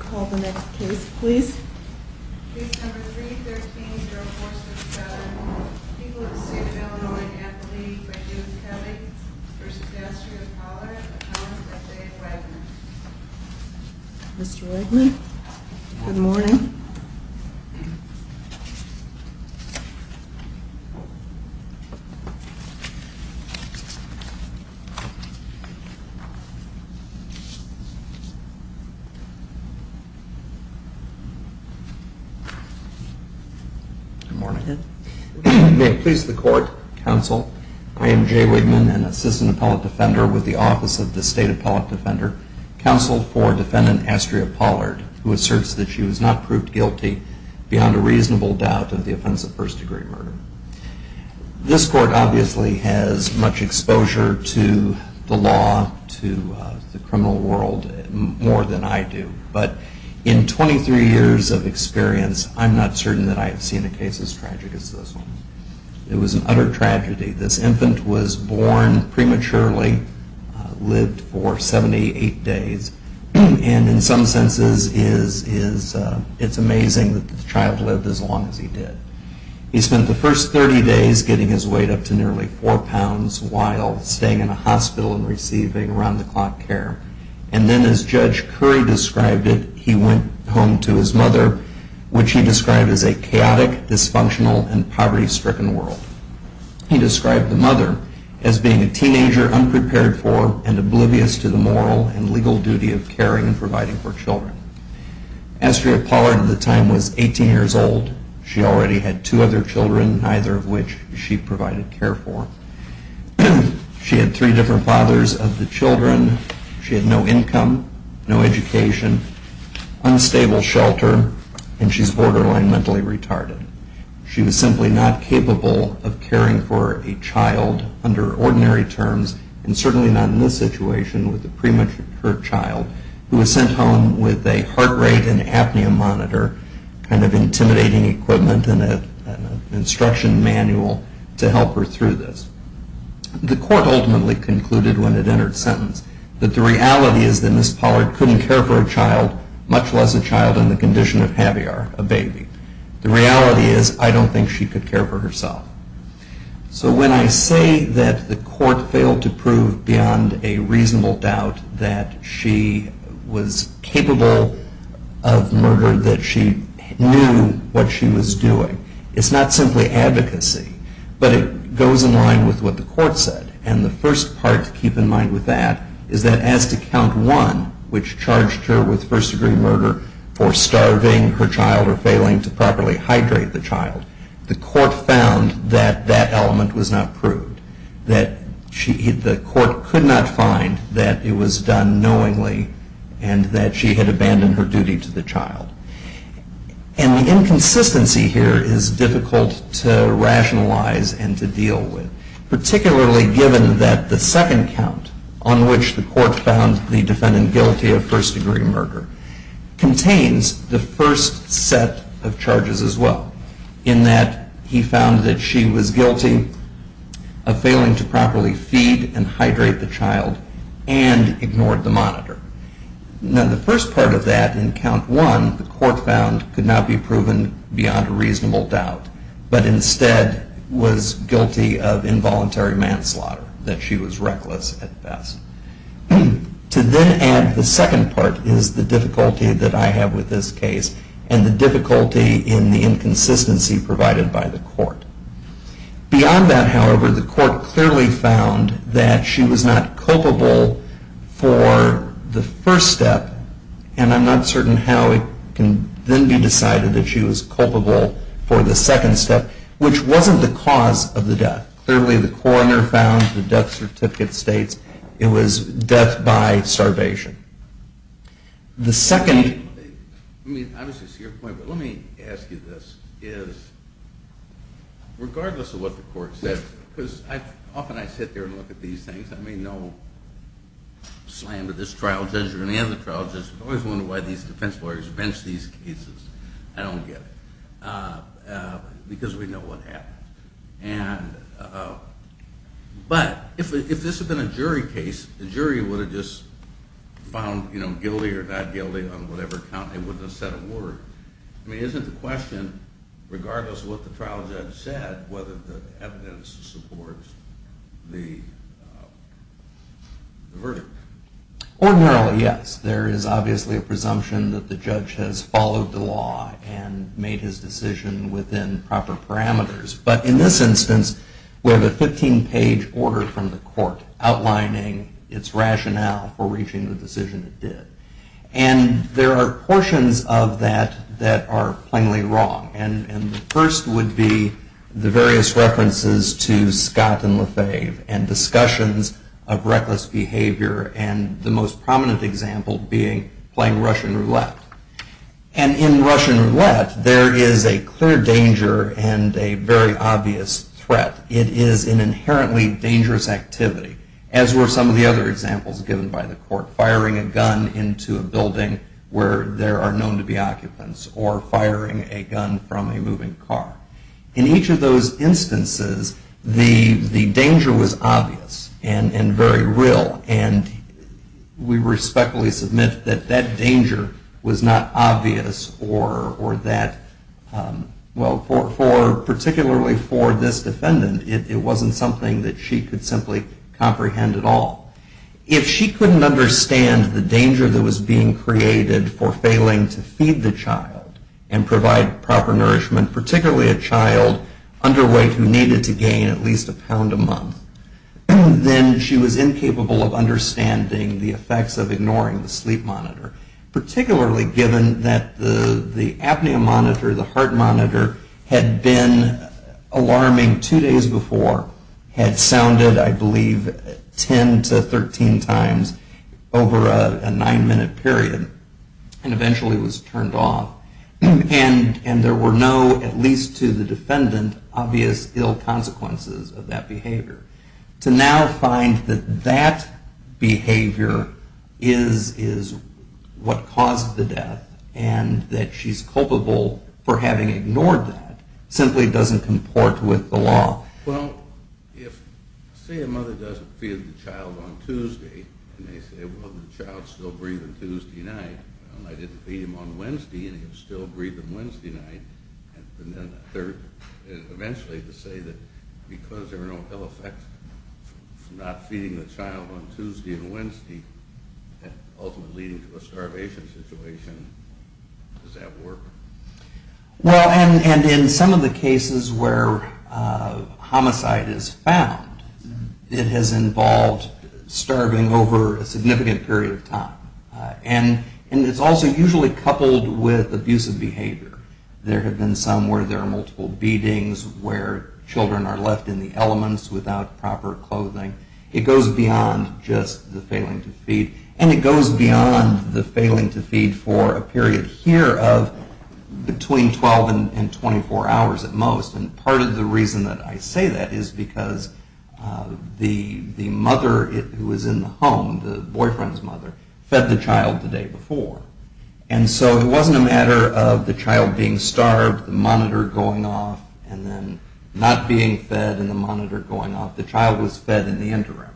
called the next case, please. Mr. Good morning. May it please the court, counsel, I am Jay Wigman, an assistant appellate defender with the Office of the State Appellate Defender, counsel for defendant Astrea Pollard, who asserts that she was not proved guilty beyond a reasonable doubt of the offense of first degree murder. This court obviously has much exposure to the law, to the criminal world, more than I do. But in 23 years of experience, I'm not certain that I have seen a case as tragic as this one. It was an utter tragedy. This infant was born prematurely, lived for 78 days, and in some senses it's amazing that the child lived as long as he did. He spent the first 30 days getting his weight up to nearly 4 pounds while staying in a hospital and receiving around-the-clock care. And then as Judge Curry described it, he went home to his mother, which he described as a chaotic, dysfunctional, and poverty-stricken world. He described the mother as being a teenager unprepared for and oblivious to the moral and legal duty of caring and providing for children. Astrea Pollard at the time was 18 years old. She already had two other children, neither of which she provided care for. She had three different fathers of the children. She had no income, no education, unstable shelter, and she's borderline mentally retarded. She was simply not capable of caring for a child under ordinary terms, and certainly not in this situation with a premature child who was sent home with a heart rate and apnea monitor, kind of intimidating equipment, and an instruction manual to help her through this. The court ultimately concluded when it entered sentence that the reality is that Ms. Pollard couldn't care for a child, much less a child in the condition of Javier, a baby. The reality is, I don't think she could care for herself. So when I say that the court failed to prove beyond a reasonable doubt that she was capable of murder, that she knew what she was doing, it's not simply advocacy, but it goes in line with what the court said. And the first part to keep in mind with that is that as to count one, which charged her with first degree murder for starving her child or failing to properly hydrate the child, the court found that that court could not find that it was done knowingly and that she had abandoned her duty to the child. And the inconsistency here is difficult to rationalize and to deal with, particularly given that the second count on which the court found the defendant guilty of first degree murder contains the first set of charges as well, in that he found that she was guilty of failing to properly feed and hydrate the child and ignored the monitor. Now the first part of that in count one, the court found could not be proven beyond a reasonable doubt, but instead was guilty of involuntary manslaughter, that she was reckless at best. To then add the second part is the difficulty that I have with this case and the difficulty in the inconsistency provided by the court. Beyond that, however, the court clearly found that she was not culpable for the first step, and I'm not certain how it can then be decided that she was culpable for the second step, which wasn't the cause of the death. Clearly the coroner found the death certificate states it was death by starvation. The second, let me ask you this, is that the court, regardless of what the court says, because often I sit there and look at these things, I may know slam to this trial judge or any other trial judge, but I always wonder why these defense lawyers bench these cases. I don't get it. Because we know what happened. But if this had been a jury case, the jury would have just found guilty or not guilty on whatever count, they wouldn't have said a word. I mean, isn't the question, regardless of what the trial judge said, whether the evidence supports the verdict? Ordinarily, yes. There is obviously a presumption that the judge has followed the law and made his decision within proper parameters. But in this instance, we have a 15-page order from the court outlining its rationale for reaching the decision it did. And there are portions of that that are plainly wrong. And the first would be the various references to Scott and Lefebvre and discussions of reckless behavior and the most prominent example being playing Russian roulette. And in Russian roulette, there is a clear danger and a very obvious threat. It is an inherently dangerous activity, as were some of the other examples given by the court. Firing a gun into a building where there are known to be occupants or firing a gun from a moving car. In each of those instances, the danger was obvious and very real. And we respectfully submit that that danger was not obvious or that, well, particularly for this defendant, it wasn't something that she could simply comprehend at all. If she couldn't understand the danger that was being created for failing to feed the child and provide proper nourishment, particularly a child underweight who needed to gain at least a pound a month, then she was incapable of understanding the effects of ignoring the sleep monitor, particularly given that the apnea monitor, the heart monitor, had been alarming two days before, had sounded, I believe, 10 to 13 times over a nine-minute period, and eventually was turned off. And there were no, at least to the defendant, obvious ill consequences of that behavior. To now find that that behavior is what caused the death and that she's culpable for having ignored that simply doesn't comport with the law. Well, if, say, a mother doesn't feed the child on Tuesday and they say, well, the child's still breathing Tuesday night, well, I didn't feed him on Wednesday and he was still breathing Wednesday night, and then third, eventually to say that because there were no ill effects from not feeding the child on Tuesday and Wednesday and ultimately leading to a starvation situation, does that work? Well, and in some of the cases where homicide is found, it has involved starving over a significant period of time. And it's also usually coupled with abusive behavior. There have been some where there are multiple beatings where children are left in the elements without proper clothing. It goes beyond just the failing to feed. And it goes beyond the failing to feed for a period here of between 12 and 24 hours at most. And part of the reason that I say that is because the mother who was in the home, the boyfriend's mother, fed the child the day before. And so it wasn't a matter of the child being starved, the monitor going off, and then not being fed and the monitor going off. The child was fed in the interim.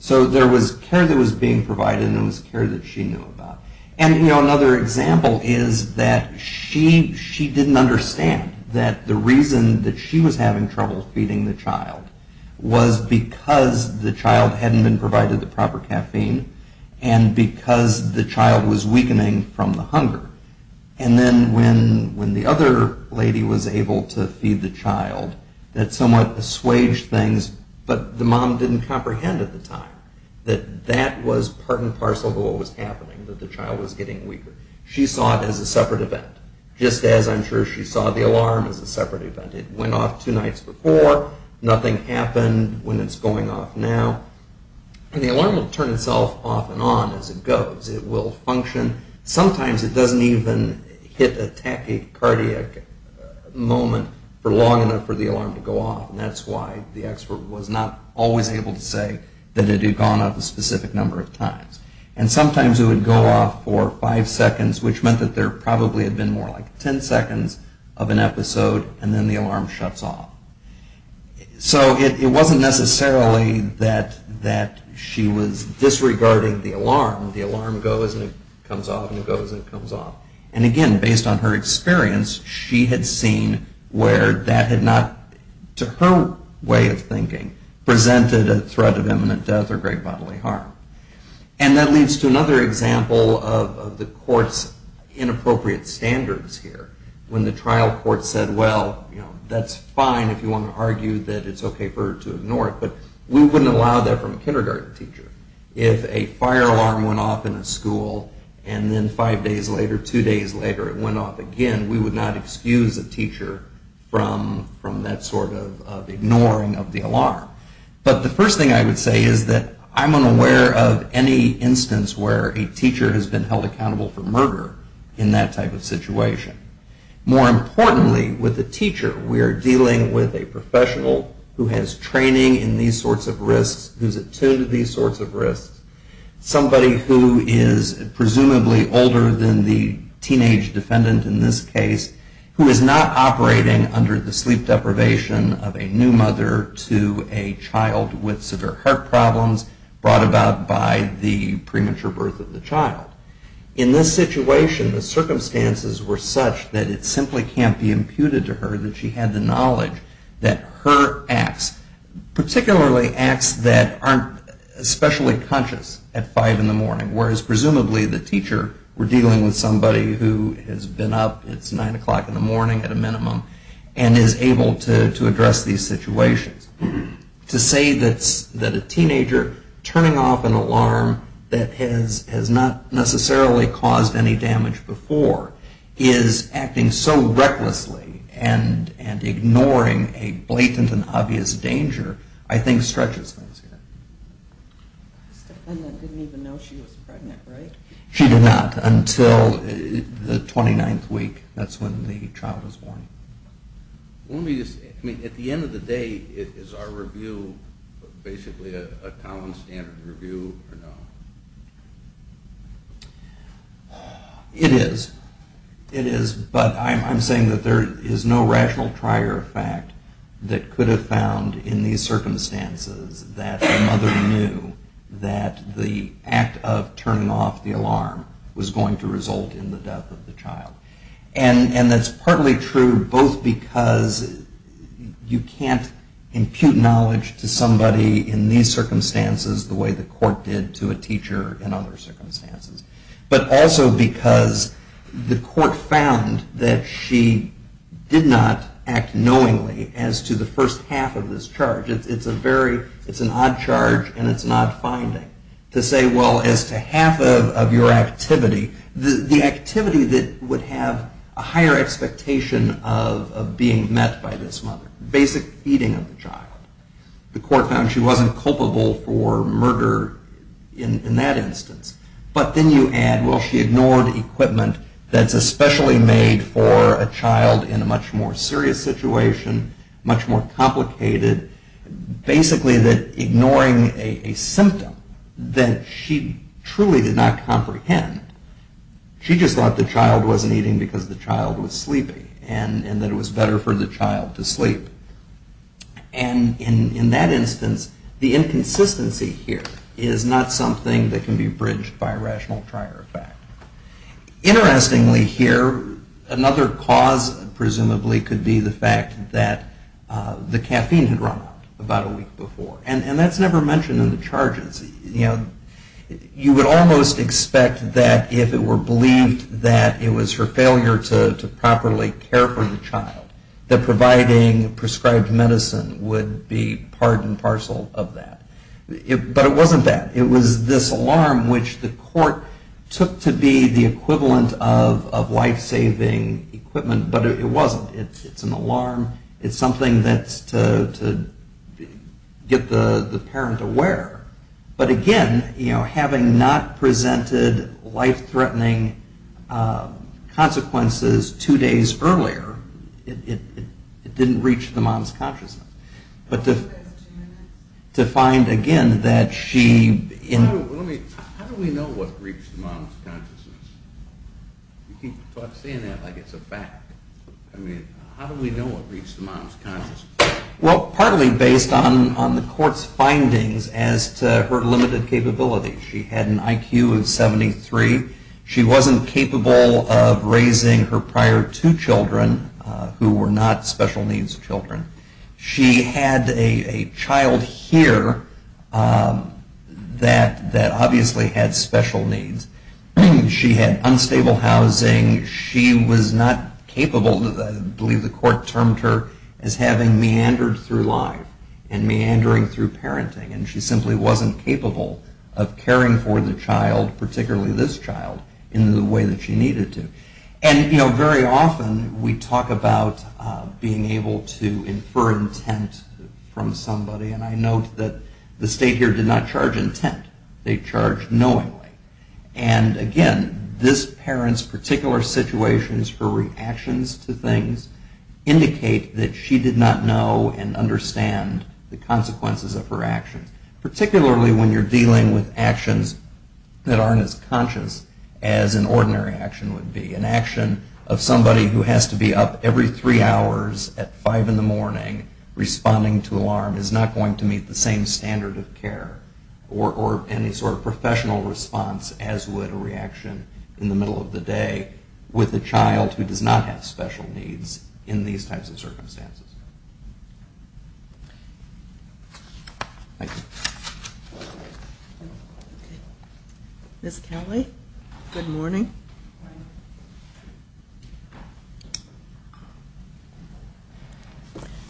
So there was care that was being provided and there was care that she knew about. And another example is that she didn't understand that the reason that she was having trouble feeding the child was because the child hadn't been provided the proper caffeine and because the child was weakening from the hunger. And then when the other lady was able to feed the child, that somewhat assuaged things, but the mom didn't comprehend at the time that that was part and parcel of what was happening, that the child was getting weaker. She saw it as a separate event, just as I'm sure she saw the alarm as a separate event. It went off two nights before, nothing happened when it's going off now. And the alarm will turn itself off and on as it goes. It will function. Sometimes it doesn't even hit a tachycardic moment for long enough for the alarm to go off, and that's why the expert was not always able to say that it had gone off a specific number of times. And sometimes it would go off for five seconds, which meant that there probably had been more like ten seconds of an episode, and then the alarm shuts off. So it wasn't necessarily that she was disregarding the alarm. The alarm goes and it comes off and it goes and it comes off. And again, based on her experience, she had seen where that had not, to her way of thinking, presented a threat of imminent death or great bodily harm. And that leads to another example of the court's inappropriate standards here. When the trial court said, well, that's fine if you want to argue that it's okay for her to ignore it, but we wouldn't allow that from a kindergarten teacher. If a fire alarm went off in a school and then five days later, two days later, it went off again, we would not excuse a teacher from that sort of ignoring of the alarm. But the first thing I would say is that I'm unaware of any instance where a teacher has been held accountable for murder in that type of situation. More importantly, with a teacher, we are dealing with a professional who has training in these sorts of risks, who's attuned to these sorts of risks, somebody who is presumably older than the teenage defendant in this case, who is not operating under the sleep deprivation of a new mother to a child with severe heart problems brought about by the premature birth of the child. In this situation, the circumstances were such that it simply can't be imputed to her that she had the knowledge that her acts, particularly acts that aren't especially conscious at 5 in the morning, whereas presumably the teacher, we're dealing with somebody who has been up, it's 9 o'clock in the morning at a minimum, and is able to address these situations. To say that a teenager turning off an alarm that has not necessarily caused any damage before is acting so recklessly and ignoring a blatant and obvious danger, I think stretches things here. The defendant didn't even know she was pregnant, right? She did not until the 29th week, that's when the child was born. At the end of the day, is our review basically a common standard review or no? It is. It is, but I'm saying that there is no rational prior fact that could have found in these circumstances that the mother knew that the act of turning off the alarm was going to result in the death of the child. And that's partly true both because you can't impute knowledge to somebody in these circumstances the way the court did to a teacher in other circumstances, but also because the court found that she did not act knowingly as to the first half of this charge. It's an odd charge, and it's not finding. To say, well, as to half of your activity, the activity that would have a higher expectation of being met by this mother. Basic feeding of the child. The court found she wasn't culpable for murder in that instance. But then you add, well, she ignored equipment that's especially made for a child in a much more serious situation, much more complicated. Basically ignoring a symptom that she truly did not comprehend. She just thought the child wasn't eating because the child was sleepy, and that it was better for the child to sleep. And in that instance, the inconsistency here is not something that can be bridged by rational prior effect. Interestingly here, another cause presumably could be the fact that the caffeine had run out about a week before. And that's never mentioned in the charges. You would almost expect that if it were believed that it was her failure to properly care for the child, that providing prescribed medicine would be part and parcel of that. But it wasn't that. It was this alarm, which the court took to be the equivalent of life-saving equipment. But it wasn't. It's an alarm. It's something that's to get the parent aware. But again, having not presented life-threatening consequences two days earlier, it didn't reach the mom's consciousness. But to find, again, that she... How do we know what reached the mom's consciousness? You keep saying that like it's a fact. I mean, how do we know what reached the mom's consciousness? Well, partly based on the court's findings as to her limited capability. She had an IQ of 73. She wasn't capable of raising her prior two children, who were not special needs children. She had a child here that obviously had special needs. She had unstable housing. She was not capable, I believe the court termed her, as having meandered through life and meandering through parenting. And she simply wasn't capable of caring for the child, particularly this child, in the way that she needed to. And very often we talk about being able to infer intent from somebody. And I note that the state here did not charge intent. They charged knowingly. And again, this parent's particular situations, her reactions to things, indicate that she did not know and understand the consequences of her actions. Particularly when you're dealing with actions that aren't as conscious as an ordinary action would be. An action of somebody who has to be up every three hours at five in the morning responding to alarm is not going to meet the same standard of care or any sort of professional response as would a reaction in the middle of the day with a child who does not have special needs in these types of circumstances. Thank you. Ms. Kelly, good morning.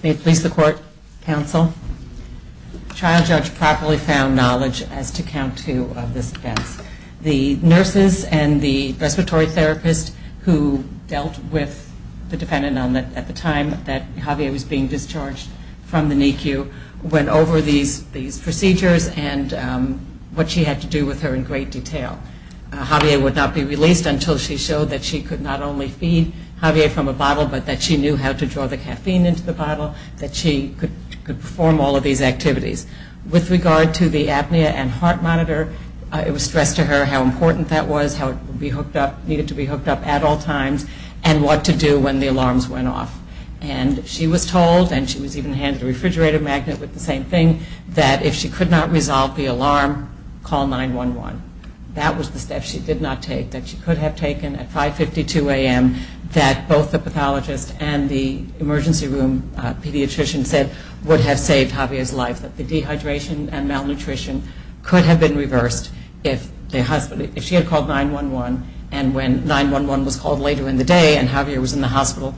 May it please the court, counsel. The trial judge properly found knowledge as to count two of these events. The nurses and the respiratory therapist who dealt with the defendant at the time that Javier was being discharged from the NICU went over these procedures and what she had to do with her in great detail. Javier would not be released until she showed that she could not only feed Javier from a bottle, but that she knew how to draw the caffeine into the bottle, that she could perform all of these activities. With regard to the apnea and heart monitor, it was stressed to her how important that was, how it needed to be hooked up at all times, and what to do when the alarms went off. And she was told, and she was even handed a refrigerator magnet with the same thing, that if she could not resolve the alarm, call 911. That was the step she did not take, that she could have taken at 5.52 a.m. that both the pathologist and the emergency room pediatrician said would have saved Javier's life, that the dehydration and malnutrition could have been reversed if she had called 911, and when 911 was called later in the day and Javier was in the hospital,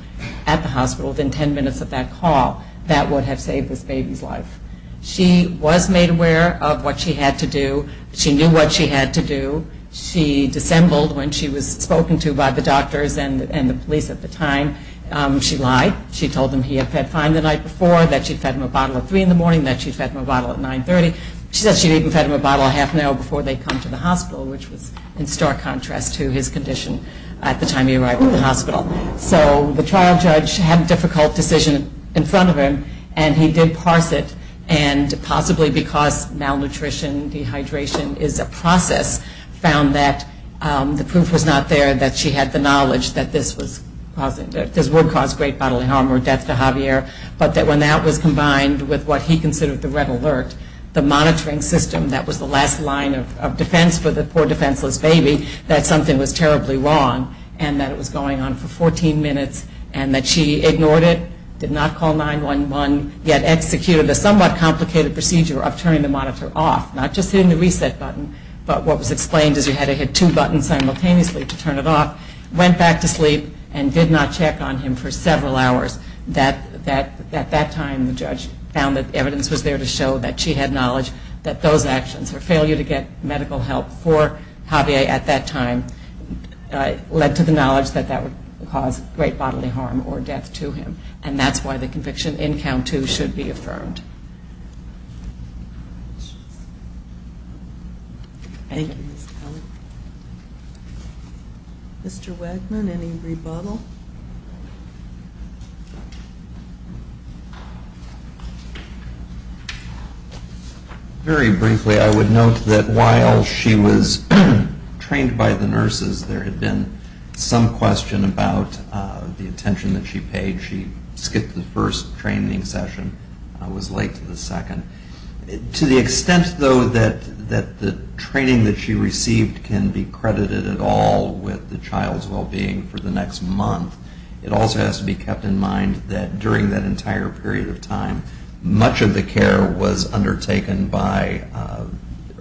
at the hospital, within 10 minutes of that call, that would have saved this baby's life. She was made aware of what she had to do. She knew what she had to do. She dissembled when she was spoken to by the doctors and the police at the time. She lied. She told them he had fed fine the night before, that she had fed him a bottle at 3 in the morning, that she had fed him a bottle at 9.30. She said she had even fed him a bottle a half an hour before they So the trial judge had a difficult decision in front of him, and he did parse it and possibly because malnutrition, dehydration is a process, found that the proof was not there that she had the knowledge that this would cause great bodily harm or death to Javier, but that when that was combined with what he considered the red alert, the monitoring system that was the last line of defense for the poor defenseless baby, that something was terribly wrong, and that it was going on for 14 minutes, and that she ignored it, did not call 911, yet executed a somewhat complicated procedure of turning the monitor off, not just hitting the reset button, but what was explained is you had to hit two buttons simultaneously to turn it off, went back to sleep, and did not check on him for several hours. At that time, the judge found that evidence was there to show that she had knowledge that those actions, her failure to get medical help for Javier at that time, led to the knowledge that that would cause great bodily harm or death to him, and that's why the conviction in count two should be affirmed. Thank you, Ms. Kelly. Mr. Wegman, any rebuttal? Very briefly, I would note that while she was trained by the nurses, there had been some question about the attention that she paid. She skipped the first training session and was late to the second. To the extent, though, that the training that she received can be credited at all with the child's well-being for the next month, it also has to be kept in mind that during that entire period of time, much of the care was undertaken by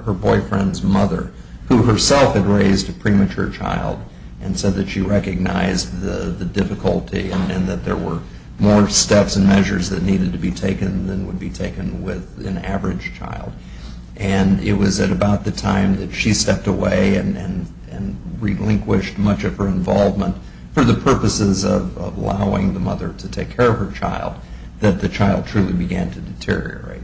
her boyfriend's mother, who herself had raised a premature child and said that she recognized the difficulty and that there were more steps and measures that needed to be taken than would be taken with an average child. And it was at about the time that she stepped away and relinquished much of her involvement for the purposes of allowing the mother to take care of her child that the child truly began to deteriorate.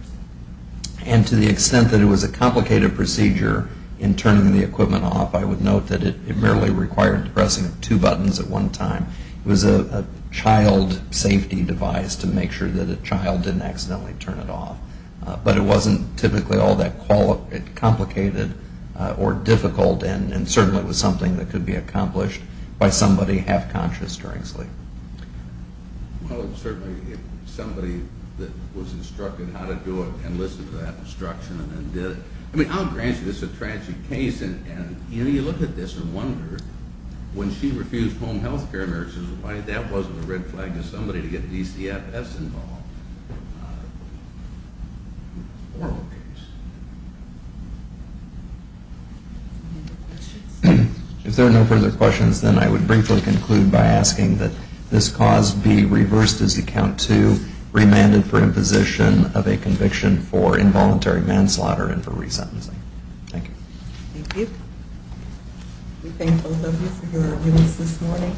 And to the extent that it was a complicated procedure in turning the equipment off, I would note that it merely required the pressing of two buttons at one time. It was a child safety device to make sure that a child didn't accidentally turn it off. But it wasn't typically all that complicated or difficult, and certainly it was something that could be accomplished by somebody half-conscious during sleep. Well, certainly somebody that was instructed how to do it and listened to that instruction and then did it. I mean, I'll grant you this is a tragic case, and you look at this and wonder, when she refused home health care, that wasn't a red flag to somebody to get DCFS involved. If there are no further questions, then I would briefly conclude by asking that this cause be reversed as you count two, remanded for imposition of a conviction for involuntary manslaughter and for resentencing. Thank you. Thank you. We thank both of you for your arguments this morning.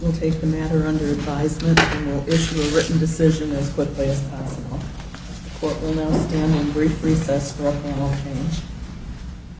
We'll take the matter under advisement and we'll issue a written decision as quickly as possible. The court will now stand on brief recess for a panel change.